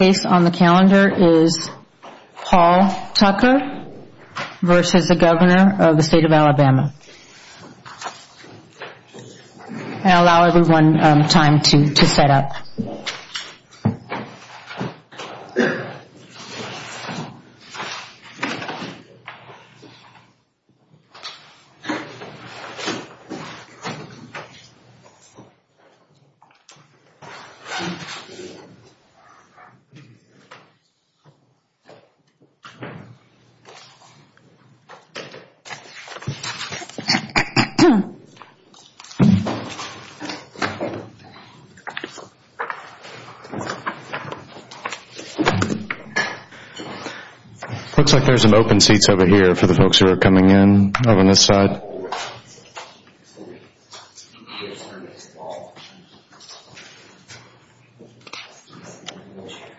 The next case on the calendar is Paul Tucker v. Governor of the State of Alabama. Looks like there are some open seats over here for the folks who are coming in on this side. Looks like there are some open seats over here for the folks who are coming in on this side. Looks like there are some open seats over here for the folks who are coming in on this side.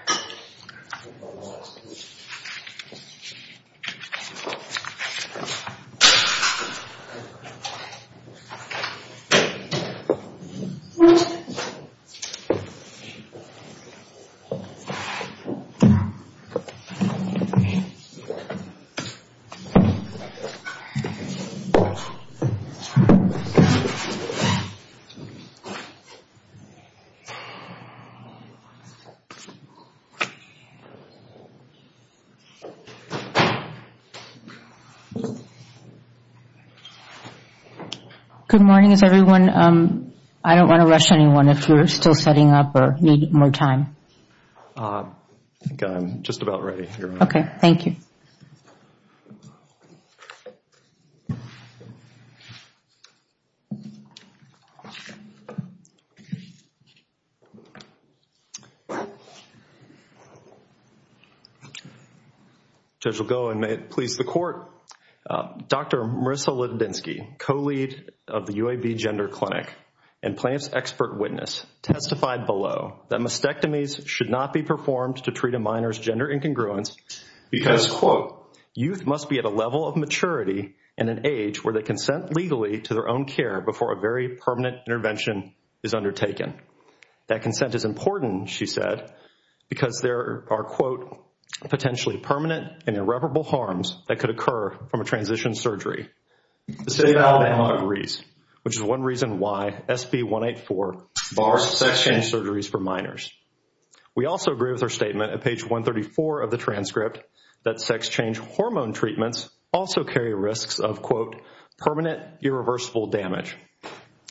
Good morning everyone. I don't want to rush anyone if you're still setting up or need more time. I think I'm just about ready, Your Honor. Okay, thank you. The judge will go and may it please the Court. Dr. Marissa Litodinsky, co-lead of the UAB Gender Clinic and Planned Parenthood's expert witness, testified below that mastectomies should not be performed to treat a minor's gender incongruence because, quote, youth must be at a level of maturity and an age where they consent legally to their own care before a very permanent intervention is undertaken. That consent is important, she said, because there are, quote, potentially permanent and irreparable harms that could occur from a transition surgery. The State of Alabama agrees, which is one reason why SB 184 bars sex change surgeries for minors. We also agree with her statement at page 134 of the transcript that sex change hormone treatments also carry risks of, quote, permanent irreversible damage.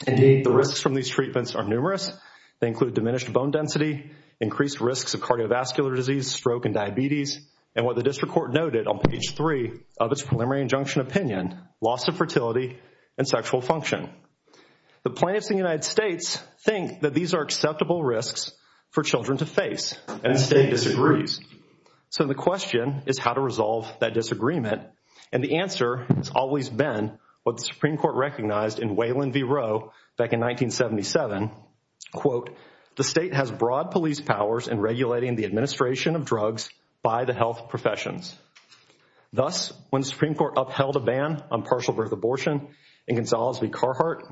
Indeed, the risks from these treatments are numerous. They include diminished bone density, increased risks of cardiovascular disease, stroke, and diabetes, and what the district court noted on page 3 of its preliminary injunction opinion, loss of fertility and sexual function. The plaintiffs in the United States think that these are acceptable risks for children to face, and the state disagrees. So the question is how to resolve that disagreement. And the answer has always been what the Supreme Court recognized in Wayland v. Roe back in 1977, quote, the state has broad police powers in regulating the administration of drugs by the health professions. Thus, when the Supreme Court upheld a ban on partial birth abortion in Gonzales v. Carhart,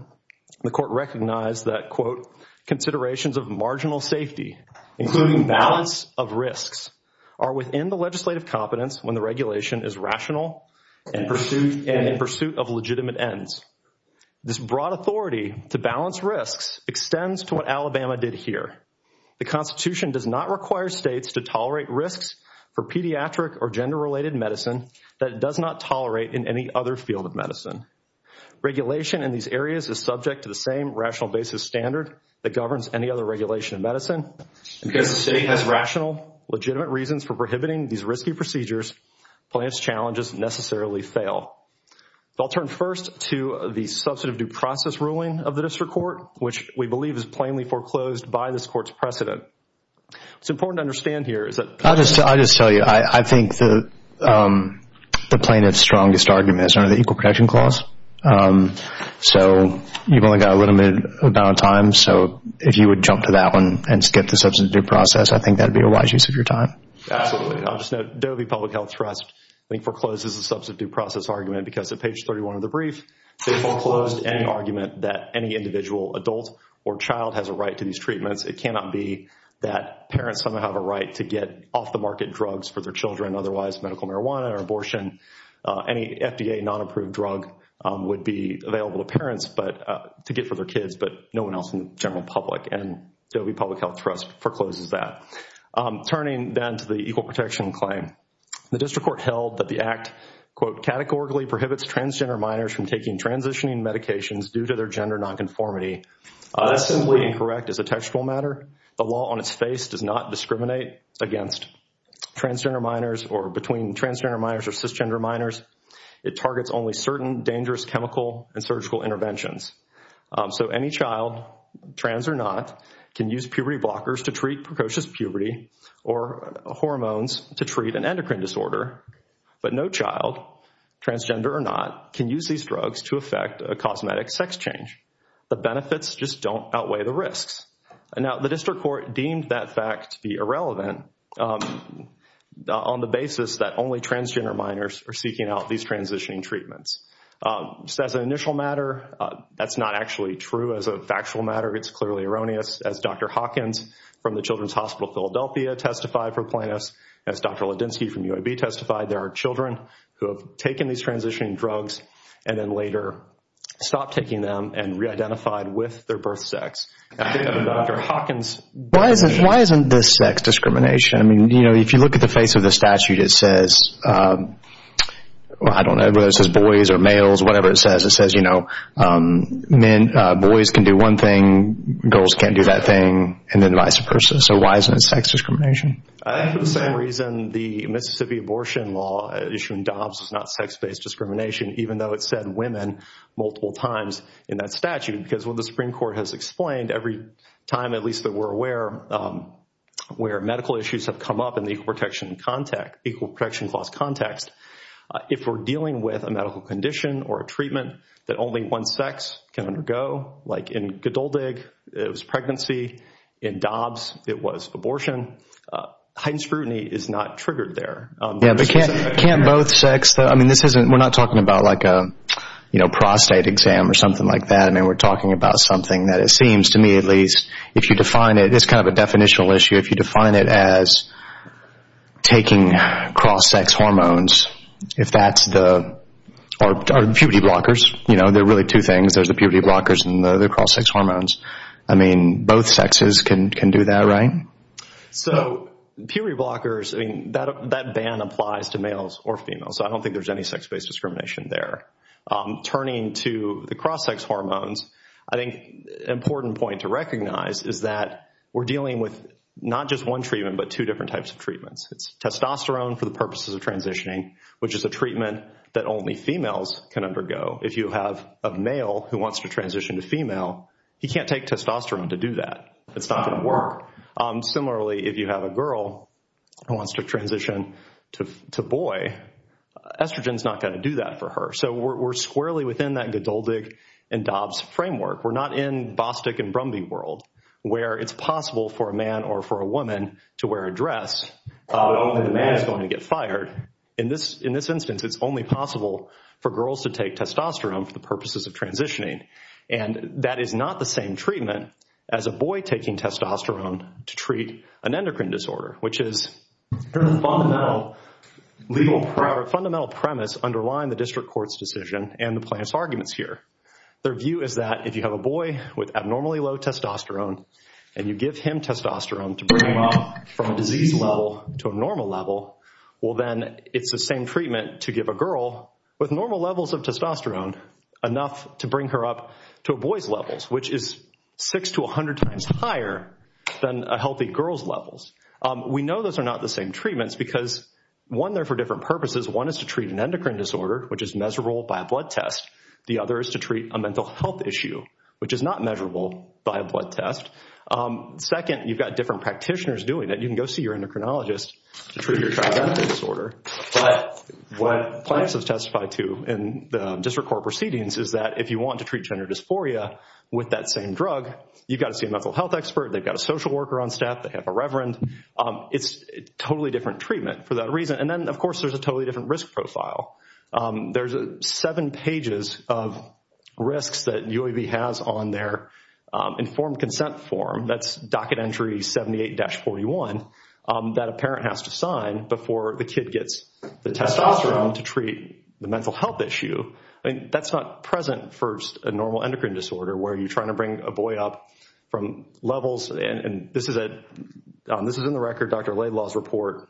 the court recognized that, quote, considerations of marginal safety, including balance of risks, are within the legislative competence when the regulation is rational and in pursuit of legitimate ends. This broad authority to balance risks extends to what Alabama did here. The Constitution does not require states to tolerate risks for pediatric or gender-related medicine that it does not tolerate in any other field of medicine. Regulation in these areas is subject to the same rational basis standard that governs any other regulation in medicine. And because the state has rational, legitimate reasons for prohibiting these risky procedures, plaintiffs' challenges necessarily fail. I'll turn first to the substantive due process ruling of the district court, which we believe is plainly foreclosed by this court's precedent. It's important to understand here is that- I'll just tell you, I think the plaintiff's strongest argument is under the Equal Protection Clause. So, you've only got a limited amount of time. So, if you would jump to that one and skip the substantive due process, I think that would be a wise use of your time. Absolutely. I'll just note, Dovey Public Health Trust, I think, forecloses the substantive due process argument because at page 31 of the brief, they foreclosed any argument that any individual adult or child has a right to these treatments. It cannot be that parents somehow have a right to get off-the-market drugs for their children, otherwise medical marijuana or abortion. Any FDA non-approved drug would be available to parents to get for their kids, but no one else in the general public. And Dovey Public Health Trust forecloses that. Turning then to the Equal Protection Claim. The district court held that the act, quote, categorically prohibits transgender minors from taking transitioning medications due to their gender nonconformity. That's simply incorrect as a textual matter. The law on its face does not discriminate against transgender minors or between transgender minors or cisgender minors. It targets only certain dangerous chemical and surgical interventions. So, any child, trans or not, can use puberty blockers to treat precocious puberty or hormones to treat an endocrine disorder. But no child, transgender or not, can use these drugs to affect a cosmetic sex change. The benefits just don't outweigh the risks. Now, the district court deemed that fact to be irrelevant on the basis that only transgender minors are seeking out these transitioning treatments. Just as an initial matter, that's not actually true as a factual matter. It's clearly erroneous. As Dr. Hawkins from the Children's Hospital of Philadelphia testified for plaintiffs, as Dr. Ladinsky from UAB testified, there are children who have taken these transitioning drugs and then later stopped taking them and reidentified with their birth sex. Dr. Hawkins. Why isn't this sex discrimination? I mean, you know, if you look at the face of the statute, it says, I don't know whether it says boys or males, whatever it says. It says, you know, boys can do one thing, girls can't do that thing, and then vice versa. So, why isn't it sex discrimination? I think for the same reason the Mississippi abortion law issued in Dobbs is not sex-based discrimination, even though it said women multiple times in that statute. Because what the Supreme Court has explained every time, at least that we're aware, where medical issues have come up in the equal protection clause context, if we're dealing with a medical condition or a treatment that only one sex can undergo, like in Godoldig, it was pregnancy. In Dobbs, it was abortion. Heightened scrutiny is not triggered there. Yeah, but can't both sex? I mean, this isn't, we're not talking about like a, you know, prostate exam or something like that. I mean, we're talking about something that it seems to me at least, if you define it, it's kind of a definitional issue. If you define it as taking cross-sex hormones, if that's the, or puberty blockers, you know, there are really two things. There's the puberty blockers and the cross-sex hormones. I mean, both sexes can do that, right? So, puberty blockers, I mean, that ban applies to males or females. So, I don't think there's any sex-based discrimination there. Turning to the cross-sex hormones, I think an important point to recognize is that we're dealing with not just one treatment, but two different types of treatments. It's testosterone for the purposes of transitioning, which is a treatment that only females can undergo. If you have a male who wants to transition to female, he can't take testosterone to do that. It's not going to work. Similarly, if you have a girl who wants to transition to boy, estrogen is not going to do that for her. So, we're squarely within that Godoldig and Dobbs framework. We're not in Bostick and Brumby world, where it's possible for a man or for a woman to wear a dress, but only the man is going to get fired. In this instance, it's only possible for girls to take testosterone for the purposes of transitioning. And that is not the same treatment as a boy taking testosterone to treat an endocrine disorder, which is the fundamental premise underlying the district court's decision and the plaintiff's arguments here. Their view is that if you have a boy with abnormally low testosterone, and you give him testosterone to bring him up from a disease level to a normal level, well then, it's the same treatment to give a girl with normal levels of testosterone enough to bring her up to a boy's levels, which is six to a hundred times higher than a healthy girl's levels. We know those are not the same treatments because one, they're for different purposes. One is to treat an endocrine disorder, which is miserable by a blood test. The other is to treat a mental health issue, which is not measurable by a blood test. Second, you've got different practitioners doing it. You can go see your endocrinologist to treat your trigeminal disorder. But what plaintiffs have testified to in the district court proceedings is that if you want to treat gender dysphoria with that same drug, you've got to see a mental health expert. They've got a social worker on staff. They have a reverend. It's a totally different treatment for that reason. And then, of course, there's a totally different risk profile. There's seven pages of risks that UAV has on their informed consent form. That's docket entry 78-41 that a parent has to sign before the kid gets the testosterone to treat the mental health issue. That's not present for a normal endocrine disorder where you're trying to bring a boy up from levels. And this is in the record, Dr. Laidlaw's report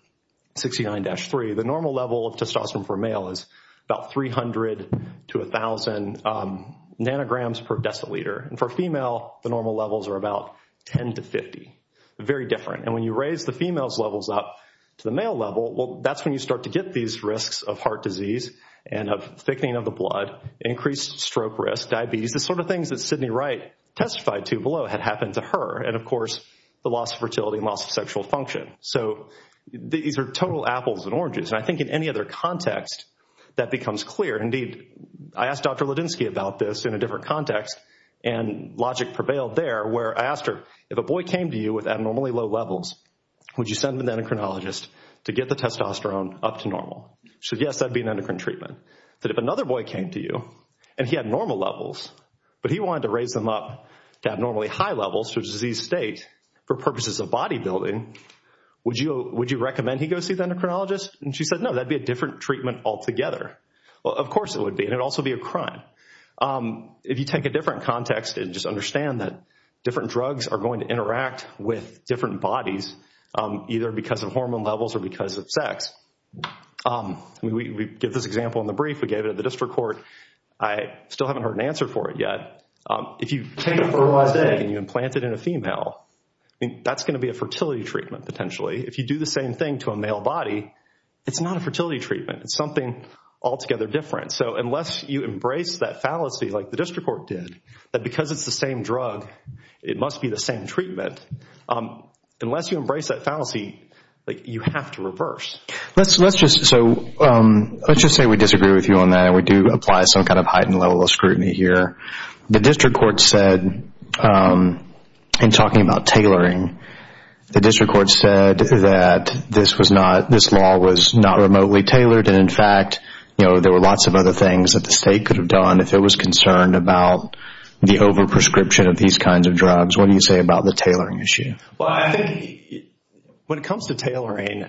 69-3. The normal level of testosterone for a male is about 300 to 1,000 nanograms per deciliter. And for a female, the normal levels are about 10 to 50. Very different. And when you raise the female's levels up to the male level, that's when you start to get these risks of heart disease and of thickening of the blood, increased stroke risk, diabetes, the sort of things that Sidney Wright testified to below had happened to her, and, of course, the loss of fertility and loss of sexual function. So these are total apples and oranges. And I think in any other context, that becomes clear. Indeed, I asked Dr. Ladinsky about this in a different context, and logic prevailed there, where I asked her, if a boy came to you with abnormally low levels, would you send him to an endocrinologist to get the testosterone up to normal? She said, yes, that would be an endocrine treatment. But if another boy came to you and he had normal levels, but he wanted to raise them up to abnormally high levels to a diseased state for purposes of bodybuilding, would you recommend he go see the endocrinologist? And she said, no, that would be a different treatment altogether. Well, of course it would be, and it would also be a crime. If you take a different context and just understand that different drugs are going to interact with different bodies, either because of hormone levels or because of sex. We give this example in the brief. We gave it at the district court. I still haven't heard an answer for it yet. If you take a fertilized egg and you implant it in a female, that's going to be a fertility treatment, potentially. If you do the same thing to a male body, it's not a fertility treatment. It's something altogether different. So unless you embrace that fallacy like the district court did, that because it's the same drug, it must be the same treatment. Unless you embrace that fallacy, you have to reverse. Let's just say we disagree with you on that and we do apply some kind of heightened level of scrutiny here. The district court said in talking about tailoring, the district court said that this law was not remotely tailored. In fact, there were lots of other things that the state could have done if it was concerned about the over-prescription of these kinds of drugs. What do you say about the tailoring issue? When it comes to tailoring,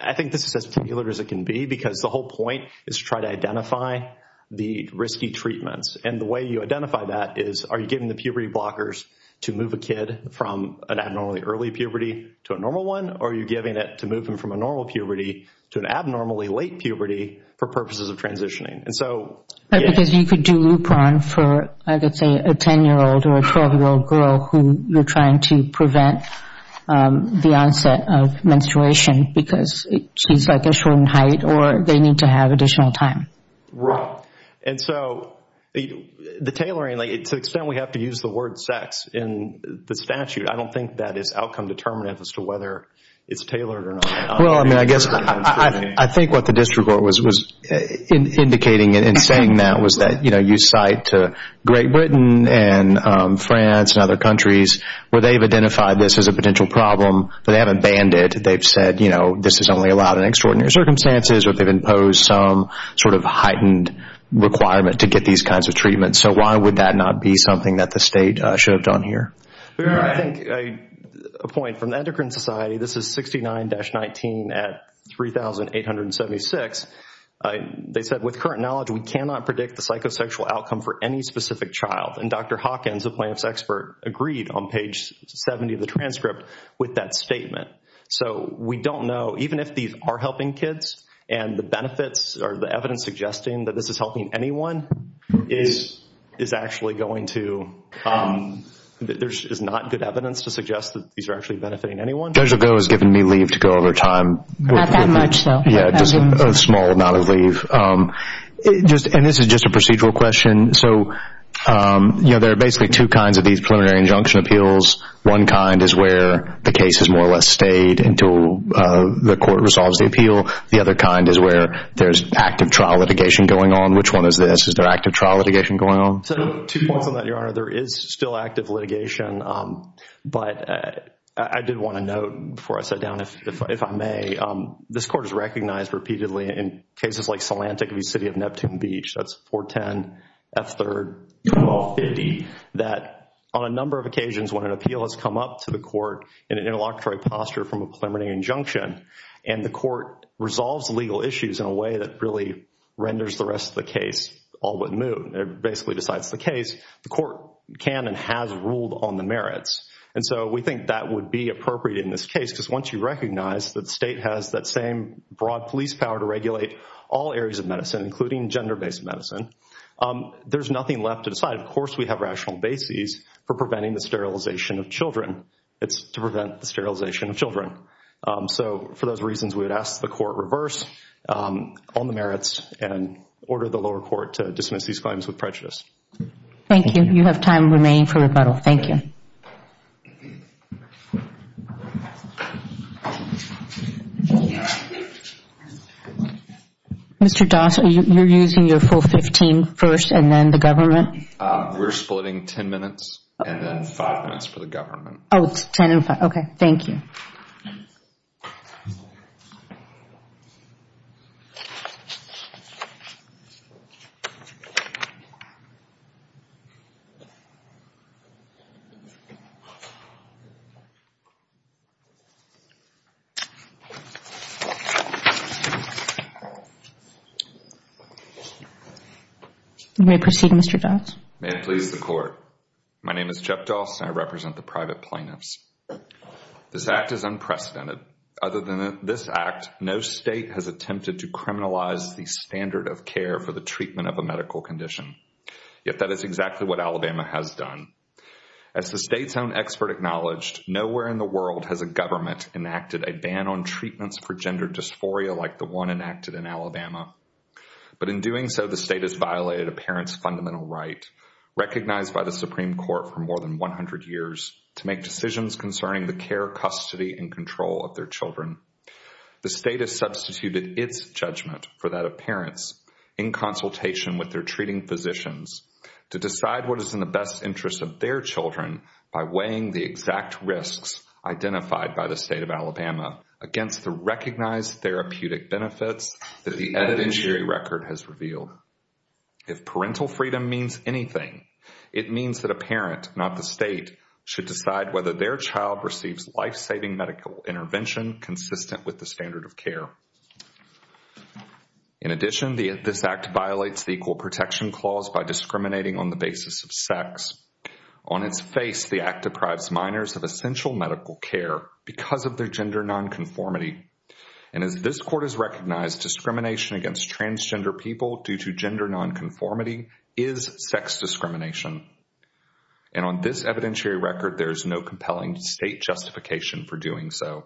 I think this is as peculiar as it can be because the whole point is to try to identify the risky treatments. The way you identify that is are you giving the puberty blockers to move a kid from an abnormally early puberty to a normal one or are you giving it to move him from a normal puberty to an abnormally late puberty for purposes of transitioning? Because you could do Lupron for, I could say, a 10-year-old or a 12-year-old girl who you're trying to prevent the onset of menstruation because she's like a shortened height or they need to have additional time. Right. And so the tailoring, to the extent we have to use the word sex in the statute, I don't think that is outcome-determinant as to whether it's tailored or not. Well, I mean, I guess I think what the district court was indicating in saying that was that you cite Great Britain and France and other countries where they've identified this as a potential problem, but they haven't banned it. They've said, you know, this is only allowed in extraordinary circumstances or they've imposed some sort of heightened requirement to get these kinds of treatments. So why would that not be something that the state should have done here? I think a point from the Endocrine Society, this is 69-19 at 3,876. They said, with current knowledge, we cannot predict the psychosexual outcome for any specific child. And Dr. Hawkins, a plaintiff's expert, agreed on page 70 of the transcript with that statement. So we don't know, even if these are helping kids and the benefits or the evidence suggesting that this is helping anyone is actually going to— there's not good evidence to suggest that these are actually benefiting anyone. Judge Ogo has given me leave to go over time. Not that much, though. Yeah, just a small amount of leave. And this is just a procedural question. So, you know, there are basically two kinds of these preliminary injunction appeals. One kind is where the case is more or less stayed until the court resolves the appeal. The other kind is where there's active trial litigation going on. Which one is this? Is there active trial litigation going on? Two points on that, Your Honor. There is still active litigation, but I did want to note before I sit down, if I may, this Court has recognized repeatedly in cases like Solantik v. City of Neptune Beach, that's 410 F. 3rd 1250, that on a number of occasions when an appeal has come up to the court in an interlocutory posture from a preliminary injunction, and the court resolves legal issues in a way that really renders the rest of the case all but moot, it basically decides the case, the court can and has ruled on the merits. And so we think that would be appropriate in this case, because once you recognize that the state has that same broad police power to regulate all areas of medicine, including gender-based medicine, there's nothing left to decide. It's to prevent the sterilization of children. So for those reasons, we would ask the court reverse on the merits and order the lower court to dismiss these claims with prejudice. Thank you. You have time remaining for rebuttal. Thank you. Mr. Doss, you're using your full 15 first and then the government? We're splitting 10 minutes and then 5 minutes for the government. Oh, 10 and 5. Okay. Thank you. You may proceed, Mr. Doss. May it please the court. My name is Jeff Doss and I represent the private plaintiffs. This act is unprecedented. Other than this act, no state has attempted to criminalize the standard of care for the treatment of a medical condition. Yet that is exactly what Alabama has done. As the state's own expert acknowledged, nowhere in the world has a government enacted a ban on treatments for gender dysphoria like the one enacted in Alabama. But in doing so, the state has violated a parent's fundamental right, recognized by the Supreme Court for more than 100 years, to make decisions concerning the care, custody, and control of their children. The state has substituted its judgment for that of parents in consultation with their treating physicians to decide what is in the best interest of their children by weighing the exact risks identified by the state of Alabama against the recognized therapeutic benefits that the evidentiary record has revealed. If parental freedom means anything, it means that a parent, not the state, should decide whether their child receives life-saving medical intervention consistent with the standard of care. In addition, this act violates the Equal Protection Clause by discriminating on the basis of sex. On its face, the act deprives minors of essential medical care because of their gender nonconformity. And as this court has recognized, discrimination against transgender people due to gender nonconformity is sex discrimination. And on this evidentiary record, there is no compelling state justification for doing so.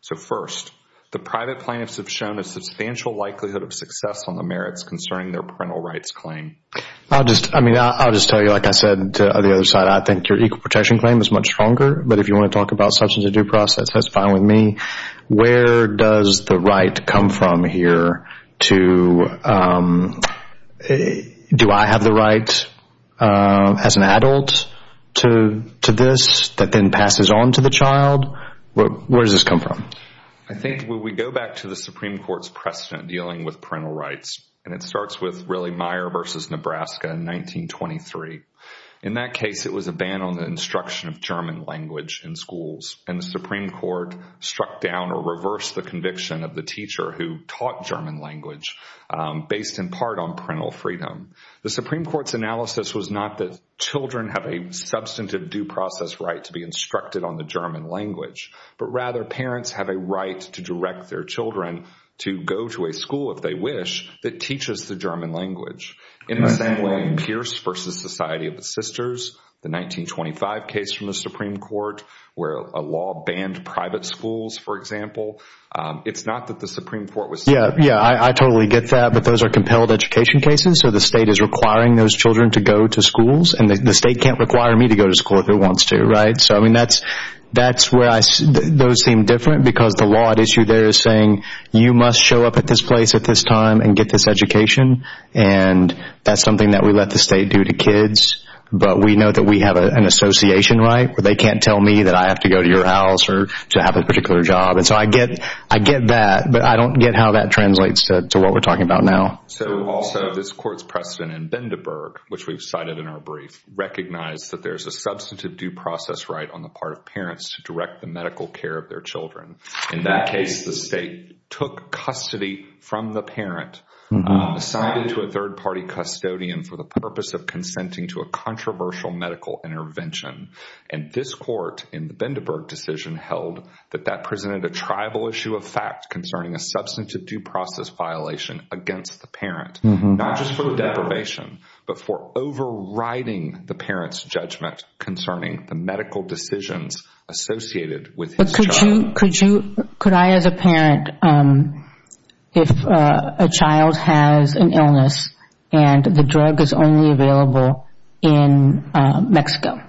So first, the private plaintiffs have shown a substantial likelihood of success on the merits concerning their parental rights claim. I'll just tell you, like I said, on the other side, I think your Equal Protection Claim is much stronger, but if you want to talk about substance of due process, that's fine with me. Where does the right come from here to, do I have the right as an adult to this that then passes on to the child? Where does this come from? I think when we go back to the Supreme Court's precedent dealing with parental rights, and it starts with really Meyer v. Nebraska in 1923. In that case, it was a ban on the instruction of German language in schools, and the Supreme Court struck down or reversed the conviction of the teacher who taught German language based in part on parental freedom. The Supreme Court's analysis was not that children have a substantive due process right to be instructed on the German language, but rather parents have a right to direct their children to go to a school, if they wish, that teaches the German language. In the same way, Pierce v. Society of the Sisters, the 1925 case from the Supreme Court where a law banned private schools, for example, it's not that the Supreme Court was— Yeah, I totally get that, but those are compelled education cases, so the state is requiring those children to go to schools, and the state can't require me to go to school if it wants to, right? So, I mean, that's where those seem different because the law at issue there is saying, you must show up at this place at this time and get this education, and that's something that we let the state do to kids, but we know that we have an association right where they can't tell me that I have to go to your house or to have a particular job, and so I get that, but I don't get how that translates to what we're talking about now. So, also, this court's precedent in Bindeberg, which we've cited in our brief, recognized that there's a substantive due process right on the part of parents to direct the medical care of their children. In that case, the state took custody from the parent, assigned it to a third-party custodian for the purpose of consenting to a controversial medical intervention, and this court, in the Bindeberg decision, held that that presented a tribal issue of fact concerning a substantive due process violation against the parent, not just for deprivation, but for overriding the parent's judgment concerning the medical decisions associated with his child. Could I, as a parent, if a child has an illness and the drug is only available in Mexico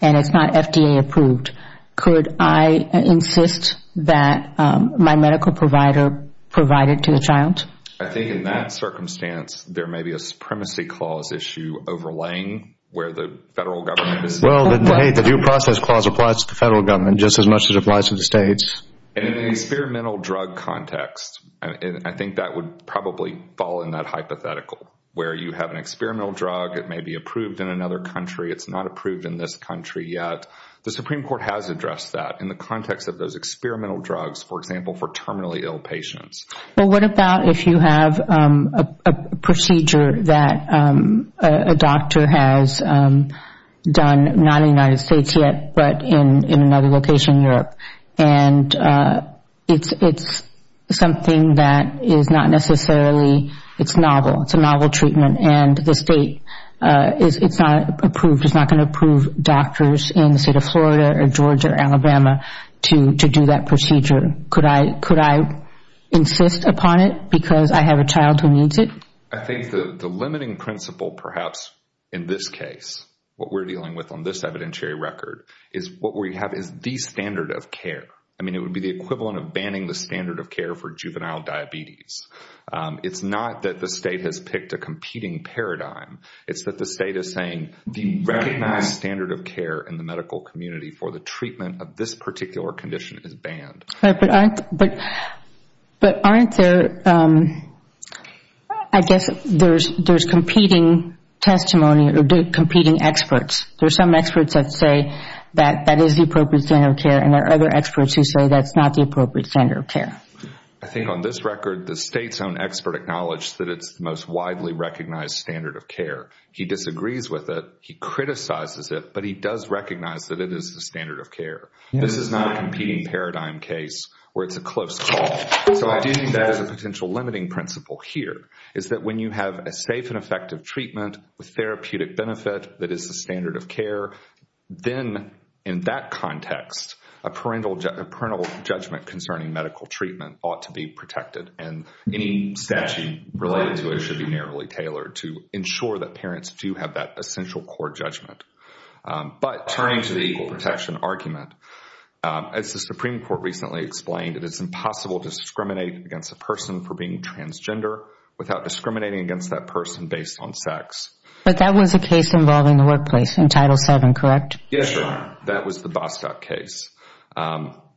and it's not FDA approved, could I insist that my medical provider provide it to the child? I think in that circumstance, there may be a supremacy clause issue overlaying where the federal government is. Well, the due process clause applies to the federal government just as much as it applies to the states. In an experimental drug context, I think that would probably fall in that hypothetical where you have an experimental drug, it may be approved in another country, it's not approved in this country yet. The Supreme Court has addressed that in the context of those experimental drugs, for example, for terminally ill patients. Well, what about if you have a procedure that a doctor has done, not in the United States yet, but in another location in Europe, and it's something that is not necessarily novel, it's a novel treatment, and the state is not going to approve doctors in the state of Florida or Georgia or Alabama to do that procedure. Could I insist upon it because I have a child who needs it? I think the limiting principle perhaps in this case, what we're dealing with on this evidentiary record, is what we have is the standard of care. I mean, it would be the equivalent of banning the standard of care for juvenile diabetes. It's not that the state has picked a competing paradigm. It's that the state is saying the recognized standard of care in the medical community for the treatment of this particular condition is banned. But aren't there, I guess, there's competing testimony or competing experts. There are some experts that say that that is the appropriate standard of care, and there are other experts who say that's not the appropriate standard of care. I think on this record, the state's own expert acknowledged that it's the most widely recognized standard of care. He disagrees with it. He criticizes it, but he does recognize that it is the standard of care. This is not a competing paradigm case where it's a close call. So I do think there is a potential limiting principle here, is that when you have a safe and effective treatment with therapeutic benefit that is the standard of care, then in that context, a parental judgment concerning medical treatment ought to be protected, and any statute related to it should be narrowly tailored to ensure that parents do have that essential core judgment. But turning to the equal protection argument, as the Supreme Court recently explained, it is impossible to discriminate against a person for being transgender without discriminating against that person based on sex. But that was a case involving the workplace in Title VII, correct? Yes, Your Honor. That was the Bostock case.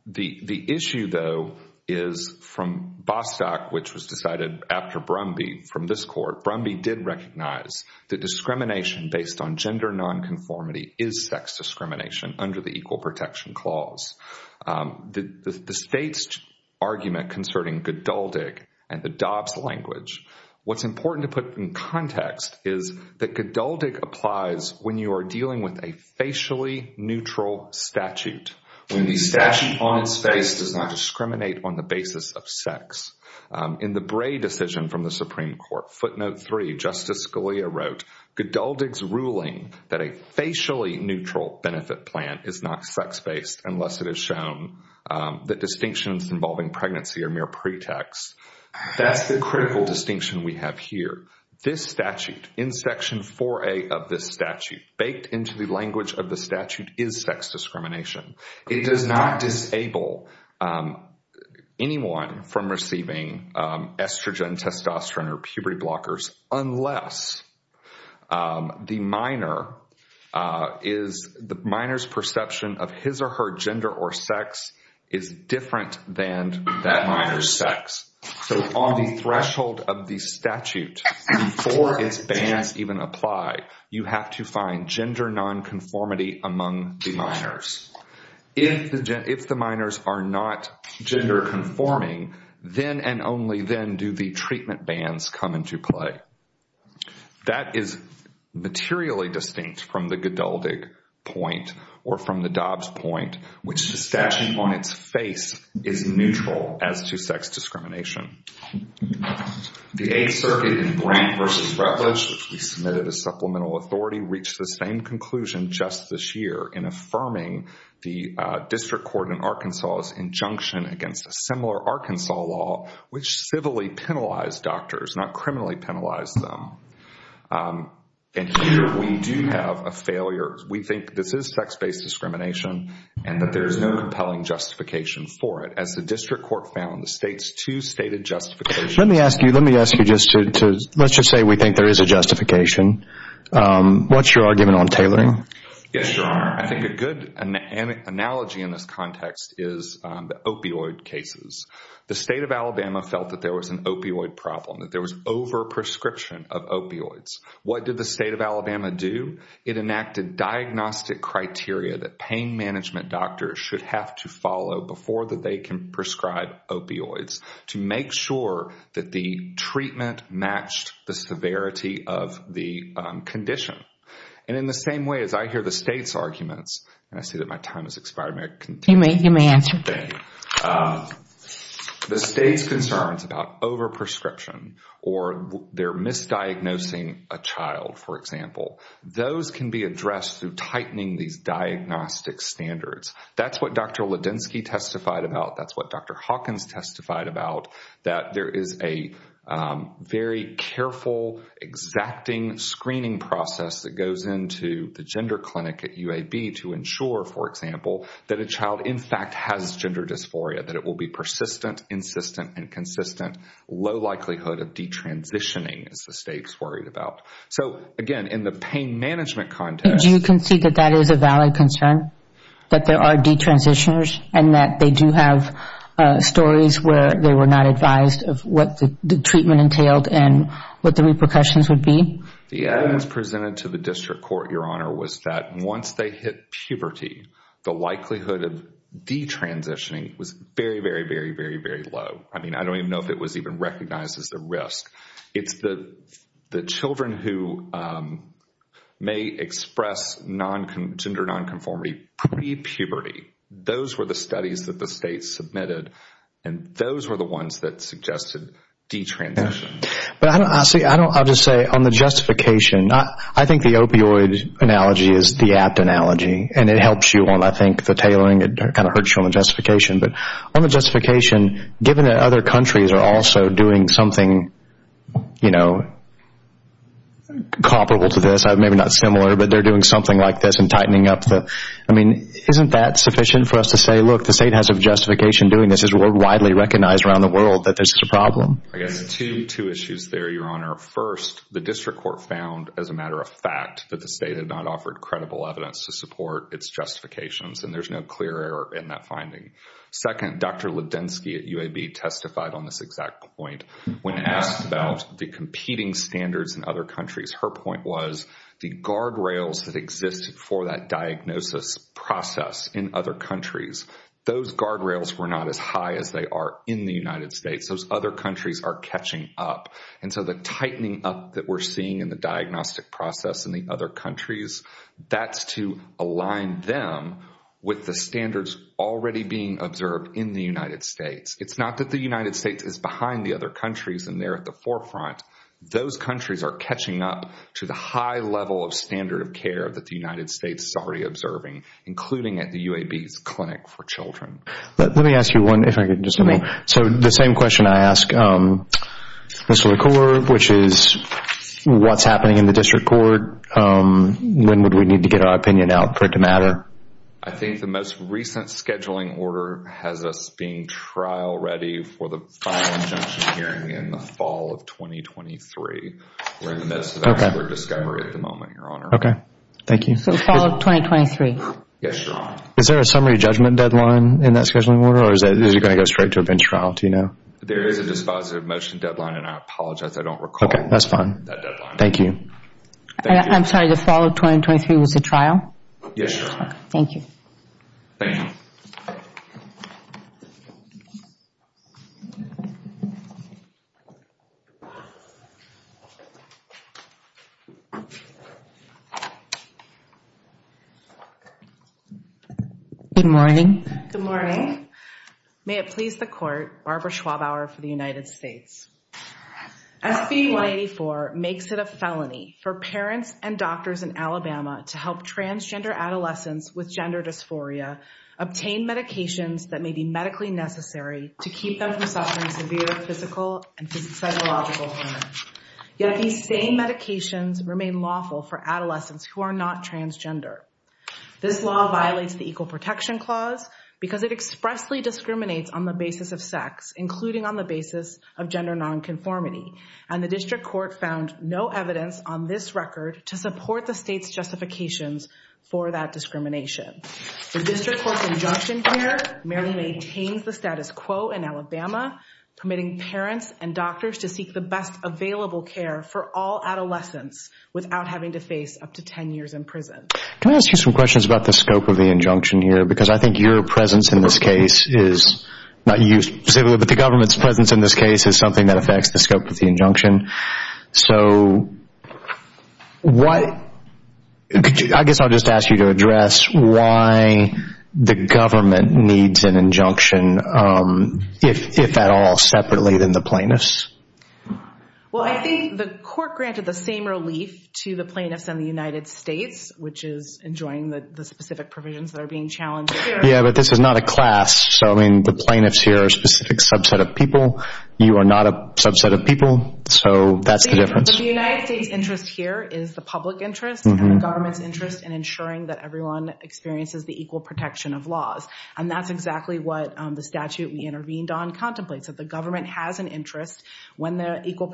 The issue, though, is from Bostock, which was decided after Brumby from this court, Brumby did recognize that discrimination based on gender nonconformity is sex discrimination under the equal protection clause. The state's argument concerning Godaldig and the Dobbs language, what's important to put in context is that Godaldig applies when you are dealing with a facially neutral statute, when the statute on its face does not discriminate on the basis of sex. In the Bray decision from the Supreme Court, footnote 3, Justice Scalia wrote, Godaldig's ruling that a facially neutral benefit plan is not sex-based unless it has shown that distinctions involving pregnancy are mere pretexts, that's the critical distinction we have here. This statute, in Section 4A of this statute, baked into the language of the statute is sex discrimination. It does not disable anyone from receiving estrogen, testosterone, or puberty blockers unless the minor's perception of his or her gender or sex is different than that minor's sex. So on the threshold of the statute, before its bans even apply, you have to find gender nonconformity among the minors. If the minors are not gender conforming, then and only then do the treatment bans come into play. That is materially distinct from the Godaldig point or from the Dobbs point, which the statute on its face is neutral as to sex discrimination. The Eighth Circuit in Brandt v. Rutledge, which we submitted as supplemental authority, reached the same conclusion just this year in affirming the district court in Arkansas's injunction against a similar Arkansas law which civilly penalized doctors, not criminally penalized them. And here we do have a failure. We think this is sex-based discrimination and that there is no compelling justification for it. As the district court found, the state's two stated justifications— Let me ask you just to—let's just say we think there is a justification. What's your argument on tailoring? Yes, Your Honor, I think a good analogy in this context is the opioid cases. The state of Alabama felt that there was an opioid problem, that there was over-prescription of opioids. What did the state of Alabama do? It enacted diagnostic criteria that pain management doctors should have to follow before they can prescribe opioids to make sure that the treatment matched the severity of the condition. And in the same way as I hear the state's arguments—and I see that my time has expired, may I continue? You may answer. Thank you. The state's concerns about over-prescription or their misdiagnosing a child, for example, those can be addressed through tightening these diagnostic standards. That's what Dr. Ledinsky testified about. That's what Dr. Hawkins testified about, that there is a very careful, exacting screening process that goes into the gender clinic at UAB to ensure, for example, that a child in fact has gender dysphoria, that it will be persistent, insistent, and consistent. Low likelihood of detransitioning is the state's worried about. So again, in the pain management context— and that they do have stories where they were not advised of what the treatment entailed and what the repercussions would be? The evidence presented to the district court, Your Honor, was that once they hit puberty, the likelihood of detransitioning was very, very, very, very, very low. I mean, I don't even know if it was even recognized as a risk. It's the children who may express gender nonconformity pre-puberty. Those were the studies that the state submitted, and those were the ones that suggested detransition. I'll just say, on the justification, I think the opioid analogy is the apt analogy, and it helps you on, I think, the tailoring. It kind of hurts you on the justification. But on the justification, given that other countries are also doing something, you know, comparable to this, maybe not similar, but they're doing something like this and tightening up the— I mean, isn't that sufficient for us to say, look, the state has a justification doing this. It's widely recognized around the world that this is a problem. I guess two issues there, Your Honor. First, the district court found, as a matter of fact, that the state had not offered credible evidence to support its justifications, and there's no clear error in that finding. Second, Dr. Ledensky at UAB testified on this exact point. When asked about the competing standards in other countries, her point was the guardrails that existed for that diagnosis process in other countries, those guardrails were not as high as they are in the United States. Those other countries are catching up. And so the tightening up that we're seeing in the diagnostic process in the other countries, that's to align them with the standards already being observed in the United States. It's not that the United States is behind the other countries and they're at the forefront. Those countries are catching up to the high level of standard of care that the United States is already observing, including at the UAB's Clinic for Children. Let me ask you one, if I could, just a moment. So the same question I ask Mr. LaCour, which is what's happening in the district court. When would we need to get our opinion out for it to matter? I think the most recent scheduling order has us being trial ready for the final injunction hearing in the fall of 2023. We're in the midst of that sort of discovery at the moment, Your Honor. Okay, thank you. So fall of 2023? Yes, Your Honor. Is there a summary judgment deadline in that scheduling order or is it going to go straight to a bench trial, do you know? There is a dispositive motion deadline and I apologize, I don't recall that deadline. Okay, that's fine. Thank you. I'm sorry, the fall of 2023 was a trial? Yes, Your Honor. Thank you. Thank you. Good morning. Good morning. May it please the court, Barbara Schwabauer for the United States. SB 184 makes it a felony for parents and doctors in Alabama to help transgender adolescents with gender dysphoria obtain medications that may be medically necessary to keep them from suffering severe physical and psychological harm. Yet these same medications remain lawful for adolescents who are not transgender. This law violates the Equal Protection Clause because it expressly discriminates on the basis of sex, including on the basis of gender nonconformity. And the district court found no evidence on this record to support the state's justifications for that discrimination. The district court's injunction here merely maintains the status quo in Alabama, permitting parents and doctors to seek the best available care for all adolescents without having to face up to 10 years in prison. Can I ask you some questions about the scope of the injunction here? Because I think your presence in this case is not you specifically, but the government's presence in this case is something that affects the scope of the injunction. So I guess I'll just ask you to address why the government needs an injunction, if at all, separately than the plaintiffs. Well, I think the court granted the same relief to the plaintiffs in the United States, which is enjoying the specific provisions that are being challenged here. Yeah, but this is not a class. So, I mean, the plaintiffs here are a specific subset of people. You are not a subset of people. So that's the difference. The United States' interest here is the public interest and the government's interest in ensuring that everyone experiences the equal protection of laws. And that's exactly what the statute we intervened on contemplates, that the government has an interest when the equal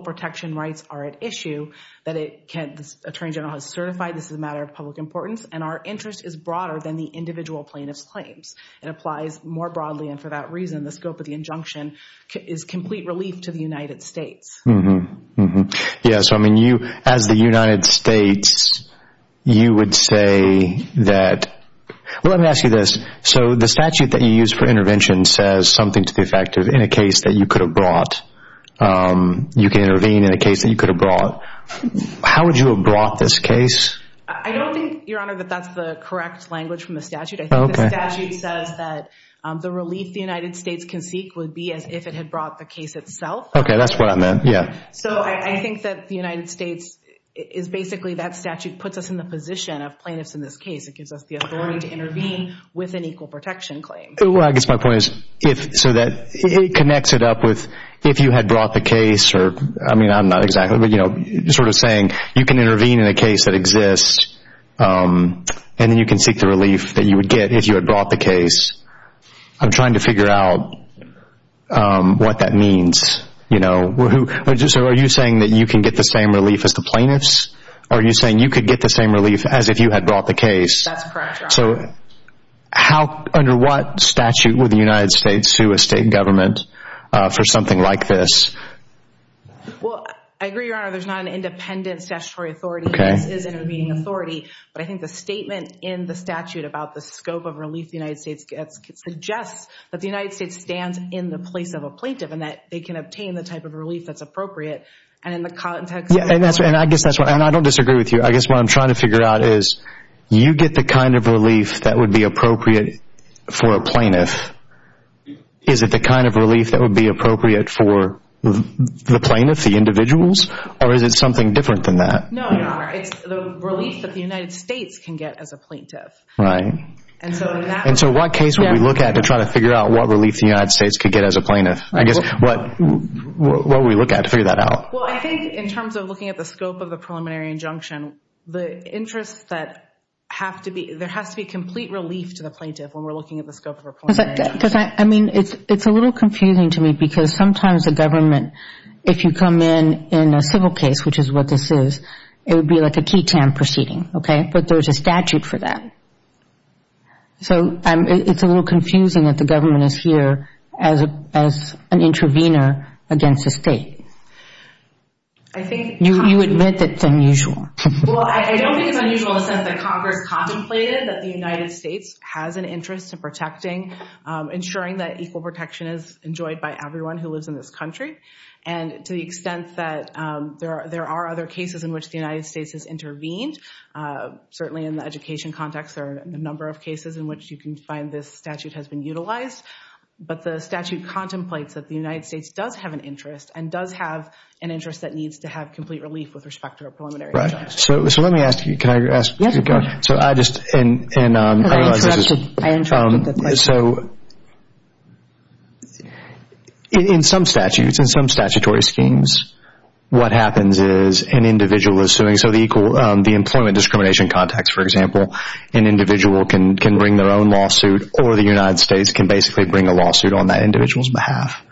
protection rights are at issue, that the Attorney General has certified this is a matter of public importance, and our interest is broader than the individual plaintiff's claims. It applies more broadly, and for that reason, the scope of the injunction is complete relief to the United States. Mm-hmm. Yeah, so, I mean, as the United States, you would say that – well, let me ask you this. So the statute that you used for intervention says something to the effect of you can intervene in a case that you could have brought. You can intervene in a case that you could have brought. How would you have brought this case? I don't think, Your Honor, that that's the correct language from the statute. I think the statute says that the relief the United States can seek would be as if it had brought the case itself. Okay, that's what I meant, yeah. So I think that the United States is basically that statute puts us in the position of plaintiffs in this case. It gives us the authority to intervene with an equal protection claim. Well, I guess my point is so that it connects it up with if you had brought the case or – I mean, I'm not exactly, but, you know, sort of saying you can intervene in a case that exists and then you can seek the relief that you would get if you had brought the case. I'm trying to figure out what that means, you know. So are you saying that you can get the same relief as the plaintiffs? Are you saying you could get the same relief as if you had brought the case? That's correct, Your Honor. So under what statute would the United States sue a state government for something like this? Well, I agree, Your Honor, there's not an independent statutory authority. This is intervening authority. But I think the statement in the statute about the scope of relief the United States gets suggests that the United States stands in the place of a plaintiff and that they can obtain the type of relief that's appropriate. And in the context – And I guess that's what – and I don't disagree with you. I guess what I'm trying to figure out is you get the kind of relief that would be appropriate for a plaintiff. Is it the kind of relief that would be appropriate for the plaintiff, the individuals, or is it something different than that? No, Your Honor. It's the relief that the United States can get as a plaintiff. Right. And so in that – And so what case would we look at to try to figure out what relief the United States could get as a plaintiff? I guess what would we look at to figure that out? Well, I think in terms of looking at the scope of the preliminary injunction, the interests that have to be – there has to be complete relief to the plaintiff when we're looking at the scope of a preliminary injunction. Because, I mean, it's a little confusing to me because sometimes the government, if you come in in a civil case, which is what this is, it would be like a ketan proceeding. Okay? But there's a statute for that. So it's a little confusing that the government is here as an intervener against the state. I think – You admit that it's unusual. Well, I don't think it's unusual in the sense that Congress contemplated that the United States has an interest in protecting, ensuring that equal protection is enjoyed by everyone who lives in this country. And to the extent that there are other cases in which the United States has intervened, certainly in the education context there are a number of cases in which you can find this statute has been utilized. But the statute contemplates that the United States does have an interest and does have an interest that needs to have complete relief with respect to a preliminary injunction. Right. So let me ask you – can I ask – Yes, go ahead. So I just – and I realize this is – I interrupted the question. So in some statutes, in some statutory schemes, what happens is an individual is suing. So the employment discrimination context, for example, an individual can bring their own lawsuit or the United States can basically bring a lawsuit on that individual's behalf.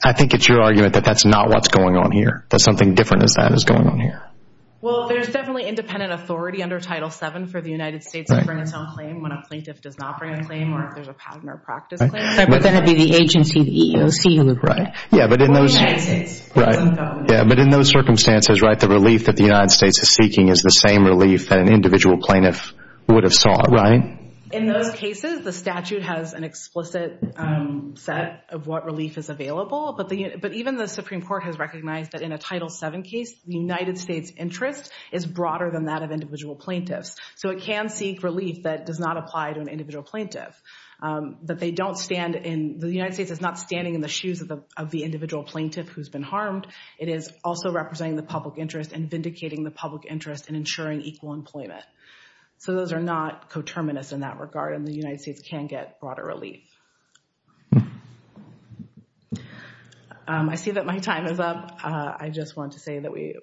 I think it's your argument that that's not what's going on here, that something different than that is going on here. Well, there's definitely independent authority under Title VII for the United States to bring its own claim when a plaintiff does not bring a claim or if there's a pattern or practice claim. But then it would be the agency, the EEOC, right? Yeah, but in those – Or the United States. Right. Yeah, but in those circumstances, right, the relief that the United States is seeking is the same relief that an individual plaintiff would have sought, right? In those cases, the statute has an explicit set of what relief is available. But even the Supreme Court has recognized that in a Title VII case, the United States' interest is broader than that of individual plaintiffs. So it can seek relief that does not apply to an individual plaintiff, that they don't stand in – the United States is not standing in the shoes of the individual plaintiff who's been harmed. It is also representing the public interest and vindicating the public interest in ensuring equal employment. So those are not coterminous in that regard, and the United States can get broader relief. I see that my time is up. I just wanted to say that we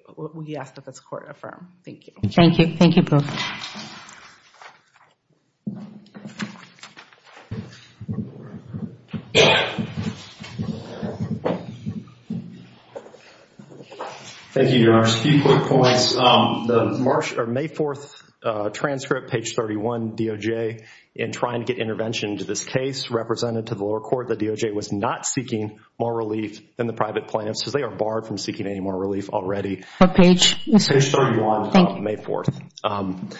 ask that this Court affirm. Thank you. Thank you. Thank you both. Thank you, Your Honors. A few quick points. The May 4th transcript, page 31, DOJ, in trying to get intervention to this case represented to the lower court, the DOJ was not seeking more relief than the private plaintiffs because they are barred from seeking any more relief already. What page? Page 31, May 4th.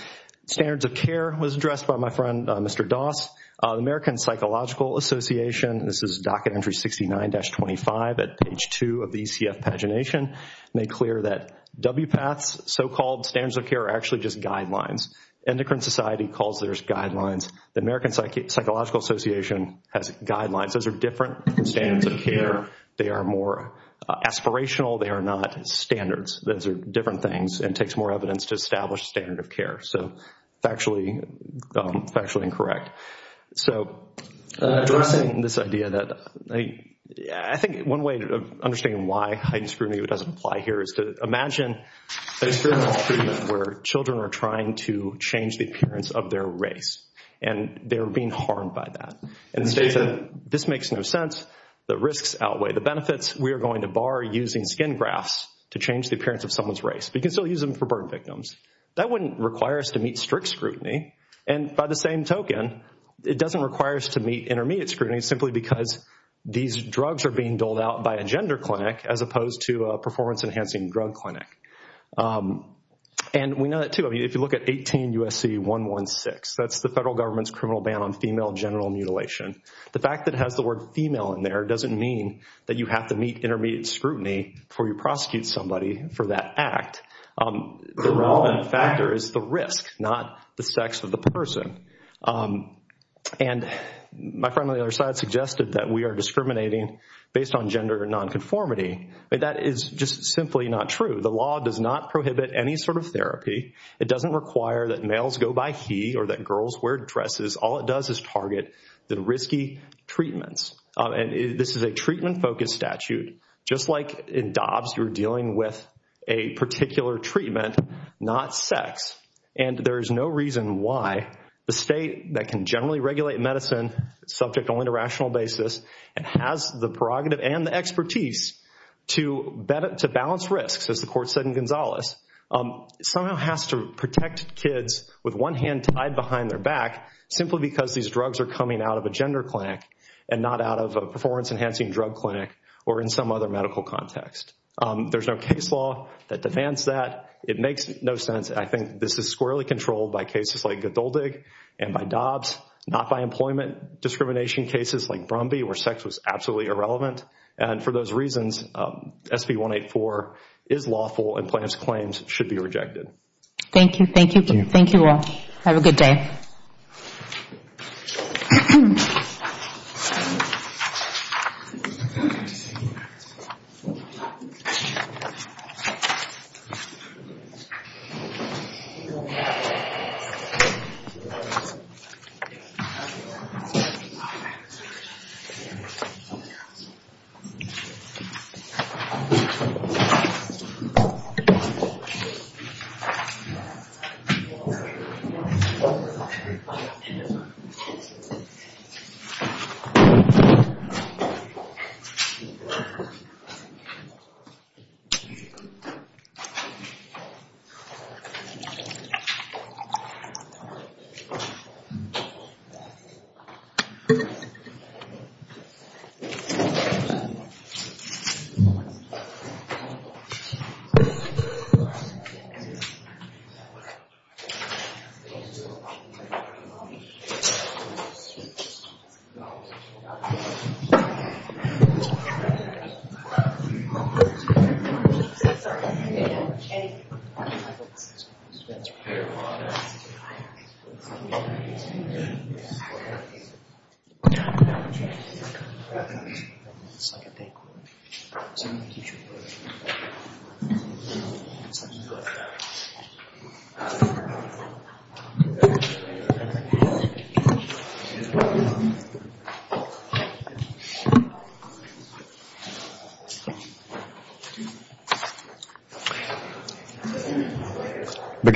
Standards of care was addressed by my friend, Mr. Doss. The American Psychological Association, this is docket entry 69-25 at page 2 of the ECF pagination, made clear that WPATH's so-called standards of care are actually just guidelines. Endocrine Society calls theirs guidelines. The American Psychological Association has guidelines. Those are different than standards of care. They are more aspirational. They are not standards. Those are different things and takes more evidence to establish standard of care. So factually incorrect. So addressing this idea that I think one way of understanding why hiding scrutiny doesn't apply here is to imagine a discriminatory treatment where children are trying to change the appearance of their race and they're being harmed by that. In the state that this makes no sense, the risks outweigh the benefits. We are going to bar using skin grafts to change the appearance of someone's race. We can still use them for bird victims. That wouldn't require us to meet strict scrutiny. And by the same token, it doesn't require us to meet intermediate scrutiny simply because these drugs are being doled out by a gender clinic as opposed to a performance-enhancing drug clinic. And we know that, too. If you look at 18 U.S.C. 116, that's the federal government's criminal ban on female genital mutilation. The fact that it has the word female in there doesn't mean that you have to meet intermediate scrutiny before you prosecute somebody for that act. The relevant factor is the risk, not the sex of the person. And my friend on the other side suggested that we are discriminating based on gender nonconformity. That is just simply not true. The law does not prohibit any sort of therapy. It doesn't require that males go by he or that girls wear dresses. All it does is target the risky treatments. This is a treatment-focused statute. Just like in DOBS, you're dealing with a particular treatment, not sex. And there is no reason why the state that can generally regulate medicine, subject only to rational basis, and has the prerogative and the expertise to balance risks, as the court said in Gonzales, somehow has to protect kids with one hand tied behind their back simply because these drugs are coming out of a gender clinic and not out of a performance-enhancing drug clinic or in some other medical context. There's no case law that defends that. It makes no sense. I think this is squarely controlled by cases like Godoldig and by DOBS, not by employment discrimination cases like Brumby where sex was absolutely irrelevant. And for those reasons, SB184 is lawful and plaintiff's claims should be rejected. Thank you. Thank you all. Have a good day. Thank you. Thank you.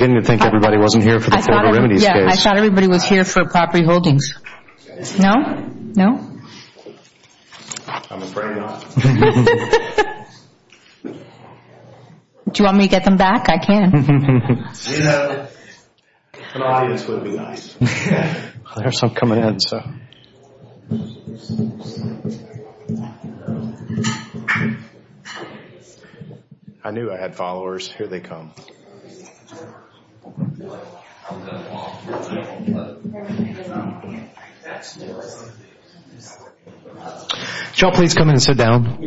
I'm beginning to think everybody wasn't here for the formal remedies case. Yeah, I thought everybody was here for property holdings. No? No? I'm afraid not. Do you want me to get them back? I can. You know, an audience would be nice. There's some coming in, so. I knew I had followers. Here they come. Could you all please come in and sit down?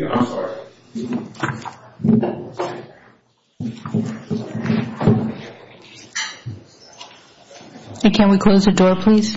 Can we close the door, please? Thank you.